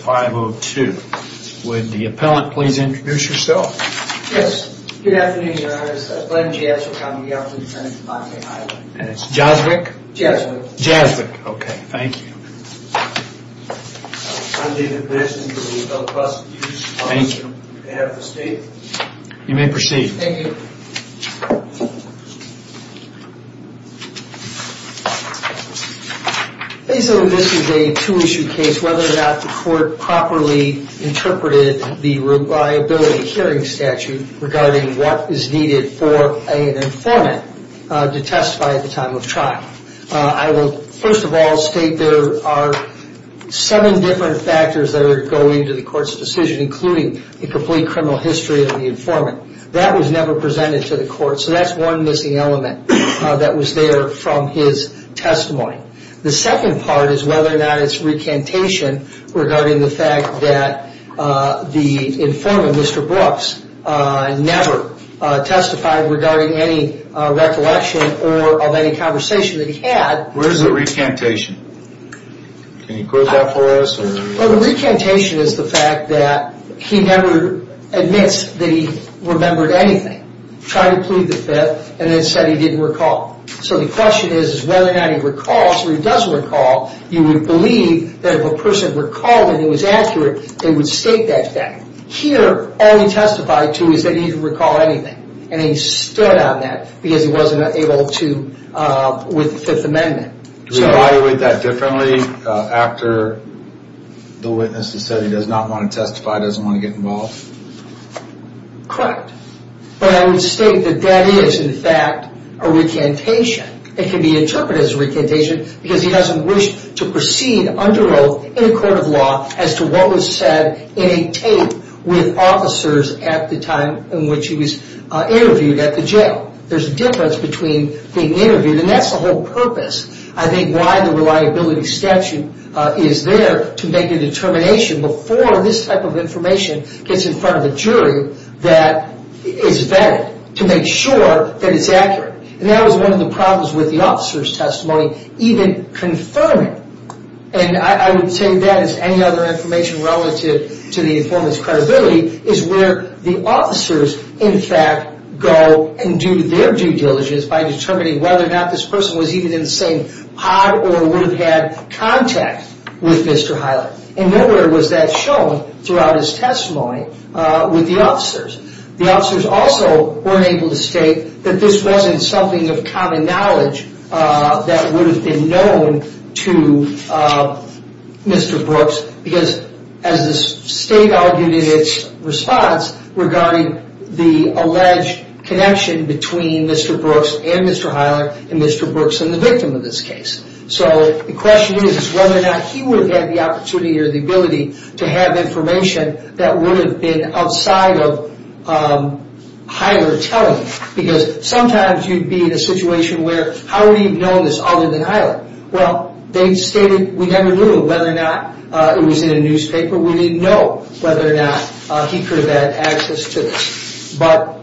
423-0502. Would the appellant please introduce herself? Yes. Good afternoon, your honor. It's Glenn Jaswick, I'm the appellant's attorney for 5K Hyler. Jaswick? Jaswick. Jaswick. Okay, thank you. I'm David Mason for the Appellate Prosecutors Office on behalf of the state. You may proceed. Thank you. This is a two-issue case, whether or not the court properly interpreted the reliability hearing statute regarding what is needed for an informant to testify at the time of trial. I will first of all state there are seven different factors that are going to the court's decision, including the complete criminal history of the informant. That was never presented to the court, so that's one missing element that was there from his testimony. The second part is whether or not it's recantation regarding the fact that the informant, Mr. Brooks, never testified regarding any recollection or of any conversation that he had. Where's the recantation? Can you quote that for us? Well, the recantation is the fact that he never admits that he remembered anything, tried to plead the fifth, and then said he didn't recall. So the question is whether or not he recalls, or he does recall, you would believe that if a person recalled and it was accurate, they would state that fact. Here, all he testified to is that he didn't recall anything, and he stood on that because he wasn't able to with the Fifth Amendment. Do we evaluate that differently after the witness has said he does not want to testify, doesn't want to get involved? Correct. But I would state that that is, in fact, a recantation. It can be interpreted as a recantation because he doesn't wish to proceed under oath in a court of law as to what was said in a tape with officers at the time in which he was interviewed at the jail. There's a difference between being interviewed, and that's the whole purpose. I think why the reliability statute is there, to make a determination before this type of information gets in front of a jury that is vetted, to make sure that it's accurate. And that was one of the problems with the officer's testimony, even confirming. And I would say that, as any other information relative to the informant's credibility, is where the officers, in fact, go and do their due diligence by determining whether or not this person was even in the same pod or would have had contact with Mr. Hyland. And nowhere was that shown throughout his testimony with the officers. The officers also weren't able to state that this wasn't something of common knowledge that would have been known to Mr. Brooks. Because, as the state argued in its response regarding the alleged connection between Mr. Brooks and Mr. Hyland, and Mr. Brooks and the victim of this case. So, the question is whether or not he would have had the opportunity or the ability to have information that would have been outside of Hyland telling him. Because sometimes you'd be in a situation where, how would he have known this other than Hyland? Well, they stated we never knew whether or not it was in a newspaper. We didn't know whether or not he could have had access to this. But,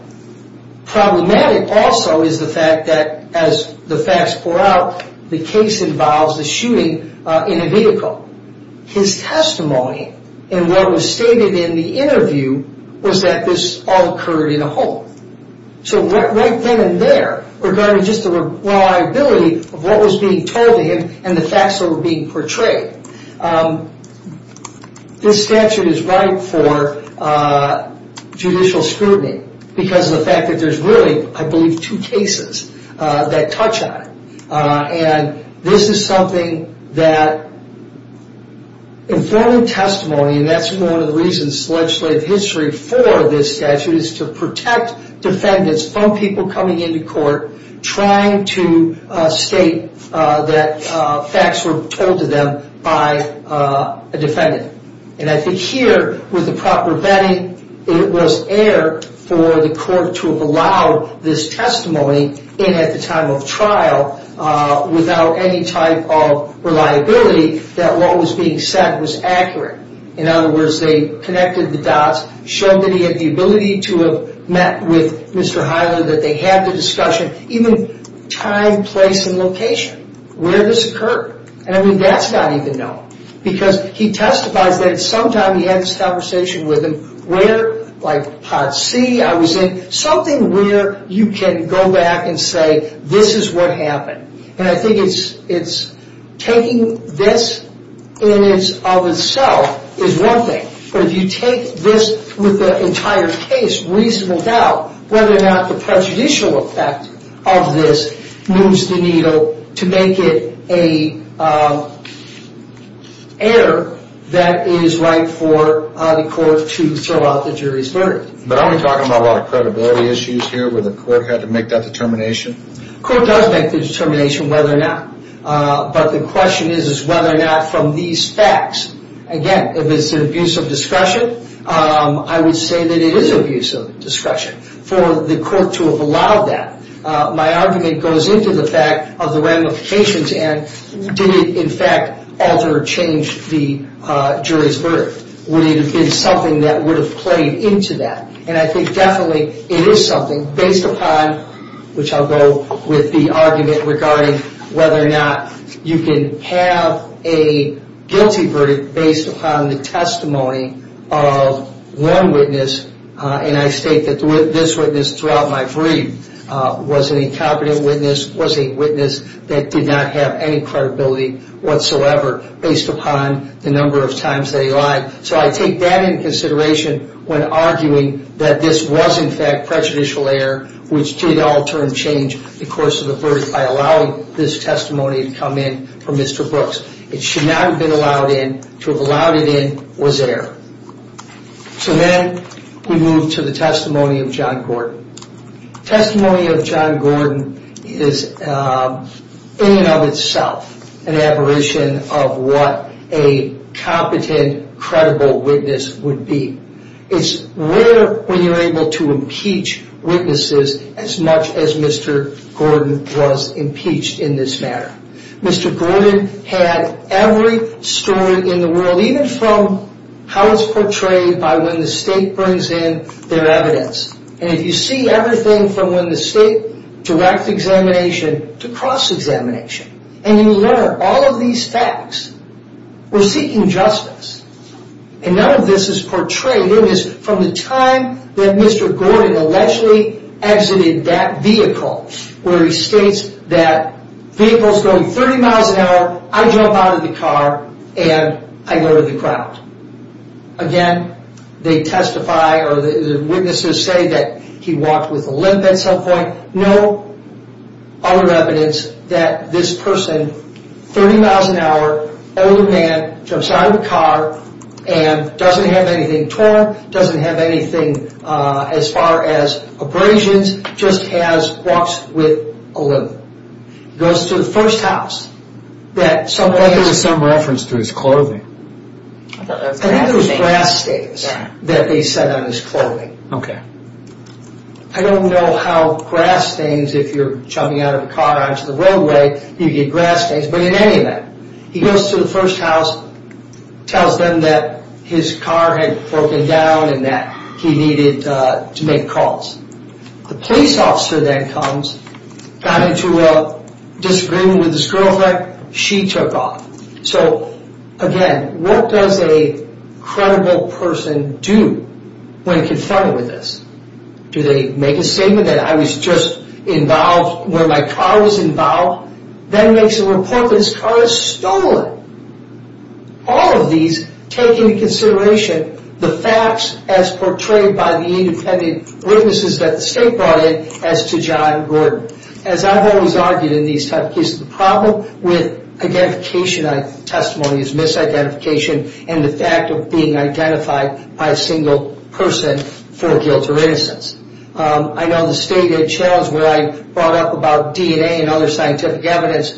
problematic also is the fact that, as the facts pour out, the case involves a shooting in a vehicle. His testimony, and what was stated in the interview, was that this all occurred in a home. So, right then and there, regarding just the reliability of what was being told to him and the facts that were being portrayed. This statute is ripe for judicial scrutiny. Because of the fact that there's really, I believe, two cases that touch on it. And this is something that informing testimony, and that's one of the reasons legislative history for this statute, is to protect defendants from people coming into court trying to state that facts were told to them by a defendant. And I think here, with the proper vetting, it was air for the court to have allowed this testimony in at the time of trial without any type of reliability that what was being said was accurate. In other words, they connected the dots, showed that he had the ability to have met with Mr. Hiler, that they had the discussion, even time, place, and location where this occurred. And I mean, that's not even known. Because he testifies that at some time he had this conversation with him where, like, Part C, I was in, something where you can go back and say, this is what happened. And I think it's taking this in and of itself is one thing. But if you take this with the entire case, reasonable doubt whether or not the prejudicial effect of this moves the needle to make it an error that is right for the court to throw out the jury's verdict. But aren't we talking about a lot of credibility issues here where the court had to make that determination? The court does make the determination whether or not. But the question is whether or not from these facts, again, if it's an abuse of discretion, I would say that it is abuse of discretion for the court to have allowed that. My argument goes into the fact of the ramifications and did it, in fact, alter or change the jury's verdict? Would it have been something that would have played into that? And I think definitely it is something based upon, which I'll go with the argument regarding whether or not you can have a guilty verdict based upon the testimony of one witness. And I state that this witness throughout my brief was an incompetent witness, was a witness that did not have any credibility whatsoever based upon the number of times they lied. So I take that into consideration when arguing that this was, in fact, prejudicial error, which did alter and change the course of the verdict by allowing this testimony to come in from Mr. Brooks. It should not have been allowed in. To have allowed it in was error. So then we move to the testimony of John Gordon. Testimony of John Gordon is, in and of itself, an aberration of what a competent, credible witness would be. It's rare when you're able to impeach witnesses as much as Mr. Gordon was impeached in this matter. Mr. Gordon had every story in the world, even from how it's portrayed by when the state brings in their evidence. And if you see everything from when the state directs examination to cross-examination, and you learn all of these facts, we're seeking justice. And none of this is portrayed. It is from the time that Mr. Gordon allegedly exited that vehicle, where he states that vehicle's going 30 miles an hour, I jump out of the car, and I go to the ground. Again, they testify, or the witnesses say that he walked with a limp at some point. No other evidence that this person, 30 miles an hour, older man, jumps out of the car, and doesn't have anything torn, doesn't have anything as far as abrasions, just walks with a limp. He goes to the first house. There was some reference to his clothing. I think it was grass stains that they said on his clothing. I don't know how grass stains, if you're jumping out of a car onto the roadway, you get grass stains, but in any event, he goes to the first house, tells them that his car had broken down and that he needed to make calls. The police officer then comes, got into a disagreement with his girlfriend, she took off. So, again, what does a credible person do when confronted with this? Do they make a statement that I was just involved, where my car was involved? Then makes a report that his car was stolen. All of these take into consideration the facts as portrayed by the independent witnesses that the state brought in as to John Gordon. As I've always argued in these type of cases, the problem with identification on testimony is misidentification and the fact of being identified by a single person for guilt or innocence. I know the state had a challenge where I brought up about DNA and other scientific evidence.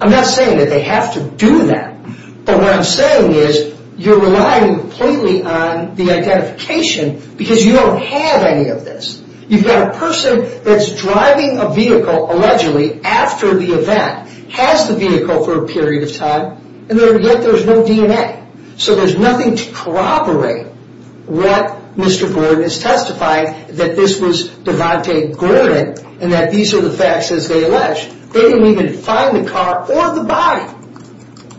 I'm not saying that they have to do that, but what I'm saying is you're relying completely on the identification because you don't have any of this. You've got a person that's driving a vehicle, allegedly, after the event, has the vehicle for a period of time, and yet there's no DNA. So there's nothing to corroborate what Mr. Gordon has testified that this was Devante Gordon and that these are the facts as they allege. They didn't even find the car or the body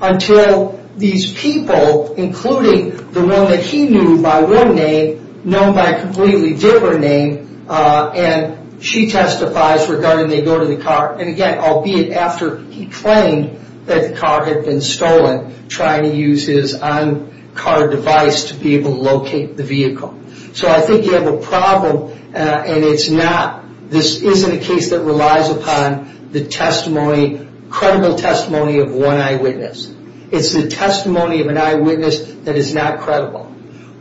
until these people, including the one that he knew by one name, known by a completely different name, and she testifies regarding they go to the car, and again, albeit after he claimed that the car had been stolen, trying to use his own car device to be able to locate the vehicle. So I think you have a problem, and this isn't a case that relies upon the testimony, credible testimony of one eyewitness. It's the testimony of an eyewitness that is not credible.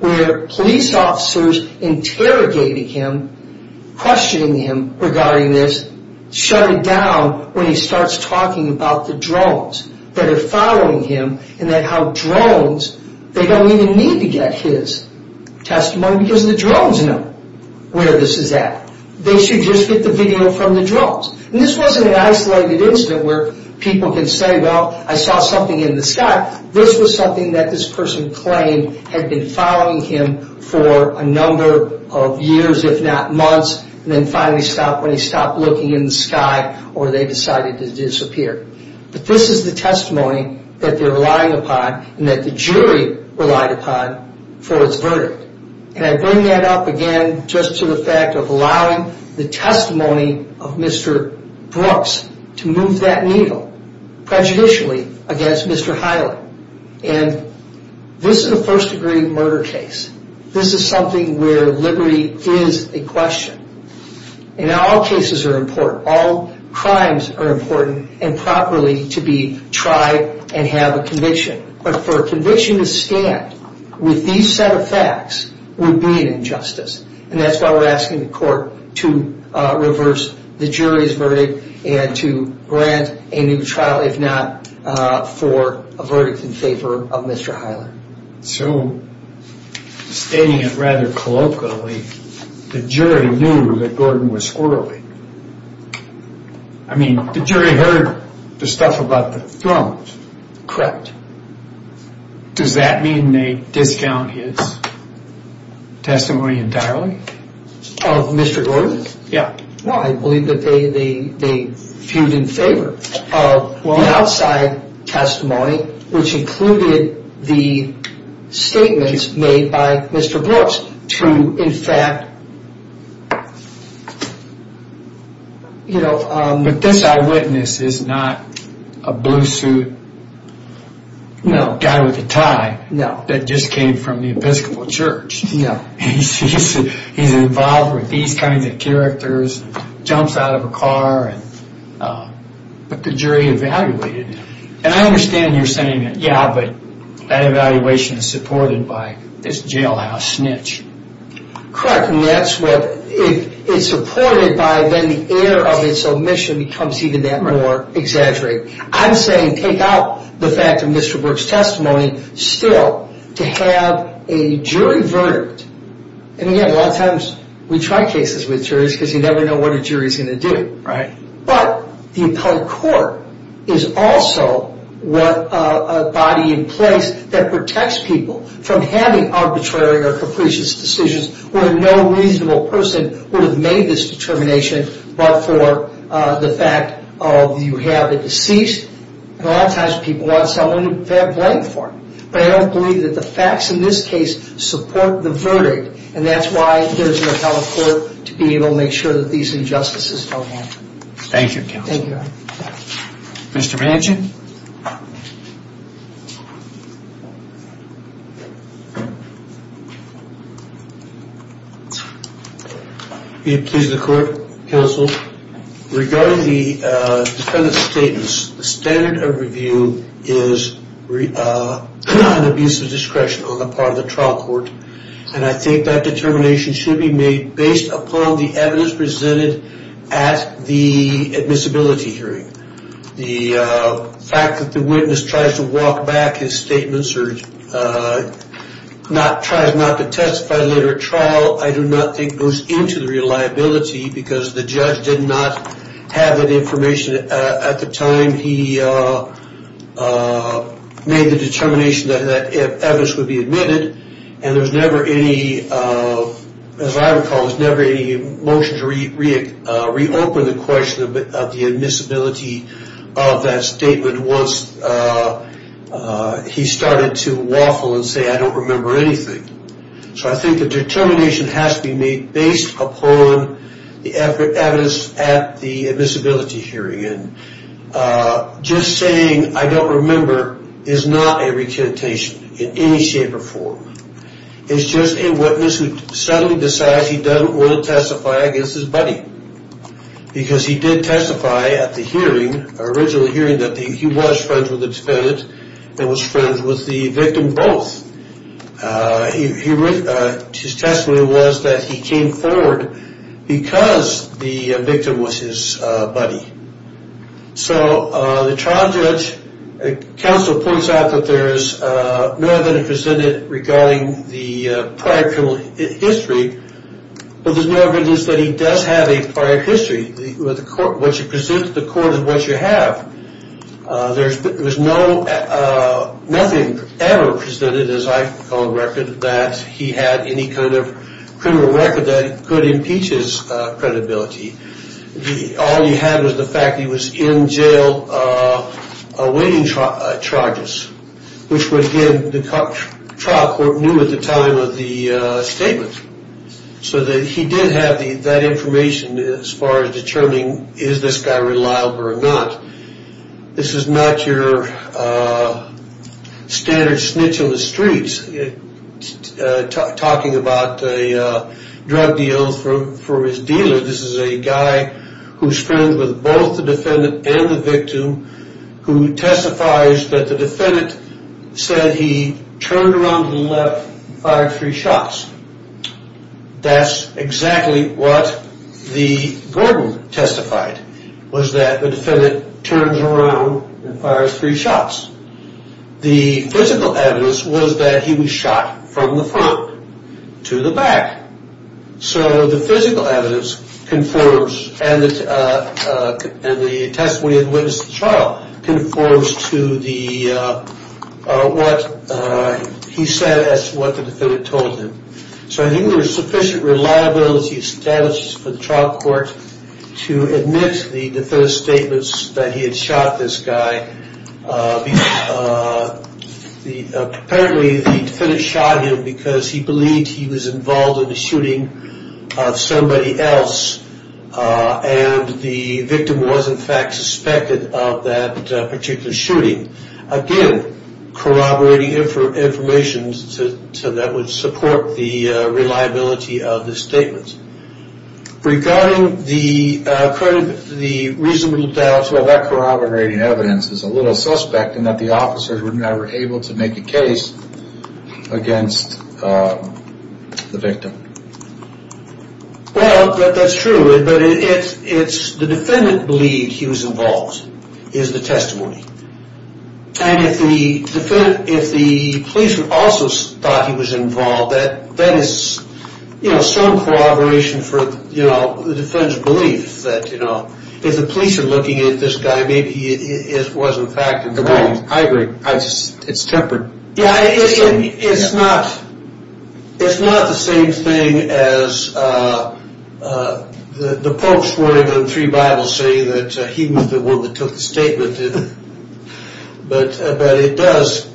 Where police officers interrogating him, questioning him regarding this, shut it down when he starts talking about the drones that are following him and that how drones, they don't even need to get his testimony because the drones know where this is at. They should just get the video from the drones. And this wasn't an isolated incident where people can say, well, I saw something in the sky. This was something that this person claimed had been following him for a number of years, if not months, and then finally stopped when he stopped looking in the sky or they decided to disappear. But this is the testimony that they're relying upon and that the jury relied upon for its verdict. And I bring that up again just to the fact of allowing the testimony of Mr. Brooks to move that needle prejudicially against Mr. Hyland. And this is a first-degree murder case. This is something where liberty is a question. And all cases are important. All crimes are important and properly to be tried and have a conviction. But for a conviction to stand with these set of facts would be an injustice. And that's why we're asking the court to reverse the jury's verdict and to grant a new trial if not for a verdict in favor of Mr. Hyland. So stating it rather colloquially, the jury knew that Gordon was squirrely. I mean, the jury heard the stuff about the thrones. Does that mean they discount his testimony entirely? Of Mr. Gordon? Yeah. Well, I believe that they fued in favor of the outside testimony, which included the statements made by Mr. Brooks to in fact, you know... But this eyewitness is not a blue suit guy with a tie that just came from the Episcopal Church. He's involved with these kinds of characters, jumps out of a car, but the jury evaluated him. And I understand you're saying, yeah, but that evaluation is supported by this jailhouse snitch. Correct, and that's what is supported by then the air of its omission becomes even that more exaggerated. I'm saying take out the fact of Mr. Brooks' testimony still to have a jury verdict. And again, a lot of times we try cases with juries because you never know what a jury is going to do. But the appellate court is also a body in place that protects people from having arbitrary or capricious decisions where no reasonable person would have made this determination but for the fact of you have a deceased. And a lot of times people want someone to bear blame for it. But I don't believe that the facts in this case support the verdict. And that's why there's an appellate court to be able to make sure that these injustices don't happen. Thank you counsel. Thank you. Mr. Manchin. Are you pleased with the court, counsel? Regarding the defendant's statements, the standard of review is an abuse of discretion on the part of the trial court. And I think that determination should be made based upon the evidence presented at the admissibility hearing. The fact that the witness tries to walk back his statements or tries not to testify later at trial, I do not think goes into the reliability because the judge did not have that information at the time he made the determination that evidence would be admitted. And there's never any, as I recall, there's never any motion to reopen the question of the admissibility of that statement once he started to waffle and say I don't remember anything. So I think the determination has to be made based upon the evidence at the admissibility hearing. Just saying I don't remember is not a recantation in any shape or form. It's just a witness who suddenly decides he doesn't want to testify against his buddy. Because he did testify at the hearing, the original hearing, that he was friends with the defendant and was friends with the victim both. His testimony was that he came forward because the victim was his buddy. So the trial judge counsel points out that there is no evidence presented regarding the prior criminal history, but there's no evidence that he does have a prior history. What you present to the court is what you have. There was no, nothing ever presented, as I recall, that he had any kind of criminal record that could impeach his credibility. All you had was the fact that he was in jail awaiting charges, which again the trial court knew at the time of the statement. So he did have that information as far as determining is this guy reliable or not. This is not your standard snitch on the streets talking about a drug deal for his dealer. This is a guy who's friends with both the defendant and the victim who testifies that the defendant said he turned around to the left and fired three shots. That's exactly what the Gordon testified, was that the defendant turns around and fires three shots. The physical evidence was that he was shot from the front to the back. So the physical evidence conforms and the testimony of the witness of the trial conforms to what he said, as to what the defendant told him. So I think there was sufficient reliability established for the trial court to admit the defendant's statements that he had shot this guy. Apparently the defendant shot him because he believed he was involved in the shooting of somebody else and the victim was in fact suspected of that particular shooting. Again corroborating information that would support the reliability of the statements. Regarding the reasonable doubt, well that corroborating evidence is a little suspect in that the officers were never able to make a case against the victim. Well that's true, but it's the defendant believed he was involved, is the testimony. And if the police also thought he was involved, that is some corroboration for the defendant's belief. If the police are looking at this guy, maybe he was in fact involved. I agree, it's tempered. Yeah, it's not the same thing as the Pope's word in the three Bibles saying that he was the one that took the statement. But it does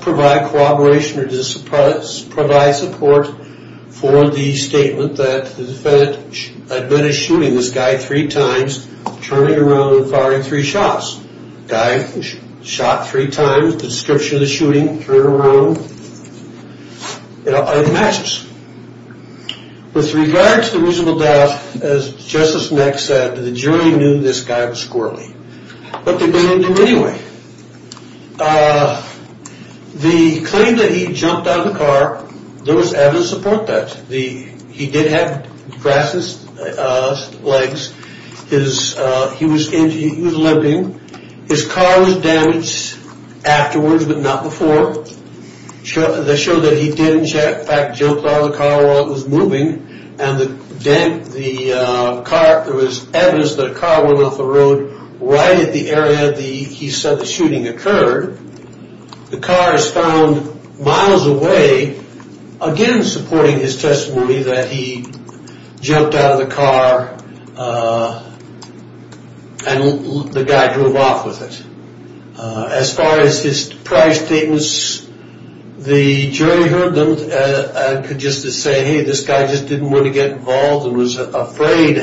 provide corroboration or provide support for the statement that the defendant admitted shooting this guy three times, turning around and firing three shots. The guy was shot three times, the description of the shooting, turning around. It all matches. With regard to the reasonable doubt, as Justice Meck said, the jury knew this guy was squirrely. But they didn't do it anyway. The claim that he jumped out of the car, there was evidence to support that. He did have braces, legs. He was limping. His car was damaged afterwards, but not before. They showed that he did in fact jump out of the car while it was moving. And there was evidence that a car went off the road right at the area he said the shooting occurred. The car is found miles away, again supporting his testimony that he jumped out of the car and the guy drove off with it. As far as his prior statements, the jury heard them and could just as say, hey, this guy just didn't want to get involved and was afraid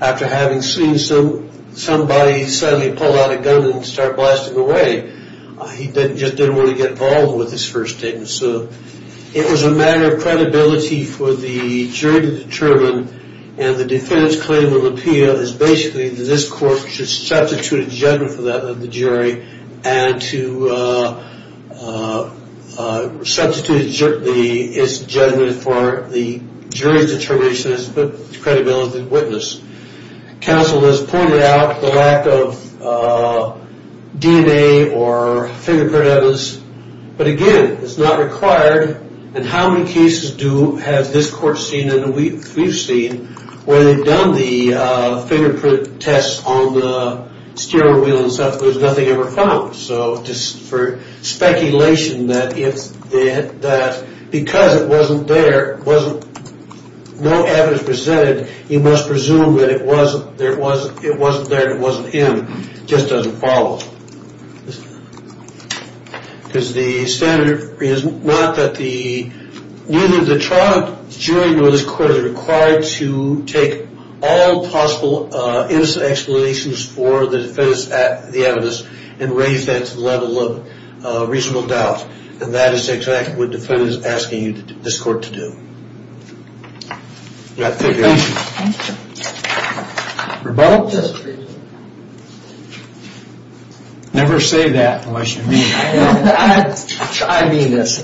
after having seen somebody suddenly pull out a gun and start blasting away. He just didn't want to get involved with his first statement. So it was a matter of credibility for the jury to determine. And the defendant's claim in the appeal is basically that this court should substitute a judgment for that of the jury and to substitute its judgment for the jury's determination as a credibility witness. Counsel has pointed out the lack of DNA or fingerprint evidence. But again, it's not required. And how many cases has this court seen and we've seen where they've done the fingerprint tests on the steering wheel and stuff, but there's nothing ever found? So just for speculation that because it wasn't there, no evidence presented, you must presume that it wasn't there and it wasn't him, just doesn't follow. Because the standard is not that the, neither the trial jury nor this court is required to take all possible innocent explanations for the evidence and raise that to the level of reasonable doubt. And that is exactly what the defendant is asking this court to do. Thank you. Thank you. Rebel? Yes, please. Never say that unless you mean it. I mean this.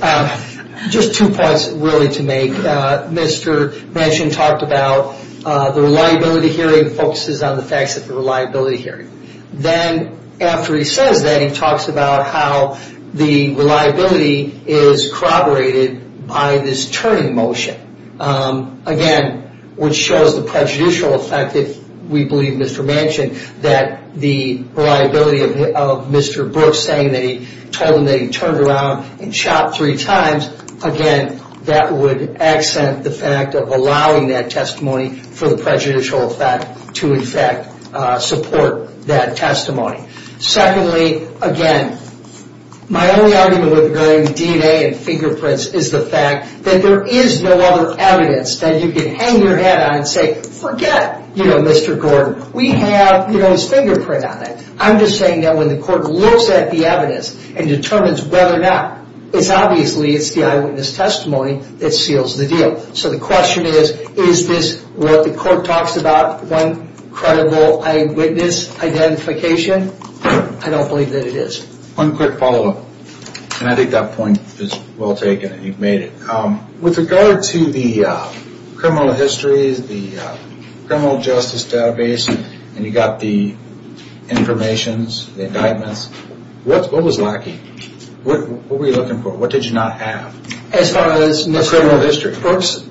Just two points really to make. Mr. Manchin talked about the reliability hearing focuses on the facts of the reliability hearing. Then after he says that, he talks about how the reliability is corroborated by this turning motion. Again, which shows the prejudicial effect, if we believe Mr. Manchin, that the reliability of Mr. Brooks saying that he told him that he turned around and shot three times, again, that would accent the fact of allowing that testimony for the prejudicial effect to in fact support that testimony. Secondly, again, my only argument with regarding DNA and fingerprints is the fact that there is no other evidence that you can hang your head on and say forget Mr. Gordon, we have his fingerprint on it. I'm just saying that when the court looks at the evidence and determines whether or not, it's obviously it's the eyewitness testimony that seals the deal. So the question is, is this what the court talks about when credible eyewitness identification? I don't believe that it is. One quick follow-up, and I think that point is well taken and you've made it. With regard to the criminal histories, the criminal justice database, and you've got the informations, the indictments, what was lacking? What were you looking for? What did you not have? As far as Mr. Brooks?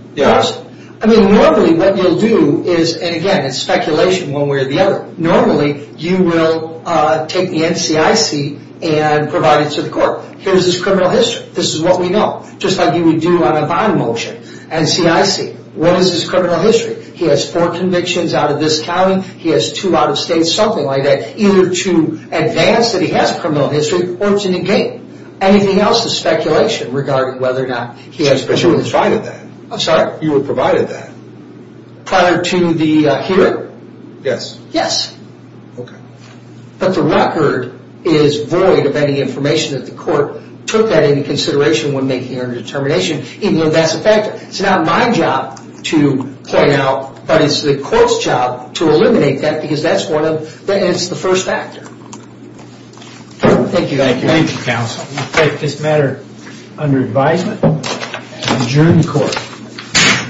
I mean, normally what you'll do is, and again, it's speculation one way or the other, normally you will take the NCIC and provide it to the court. Here's his criminal history. This is what we know. Just like you would do on a bond motion, NCIC, what is his criminal history? He has four convictions out of this county, he has two out of state, something like that, either to advance that he has criminal history or to negate. Anything else is speculation regarding whether or not he has criminal history. But you would provide it then. I'm sorry? You would provide it then. Prior to the hearing? Yes. Yes. Okay. But the record is void of any information that the court took that into consideration when making their determination, even though that's a factor. It's not my job to point out, but it's the court's job to eliminate that because that's the first factor. Thank you. Thank you, counsel. We take this matter under advisement and adjourn the court.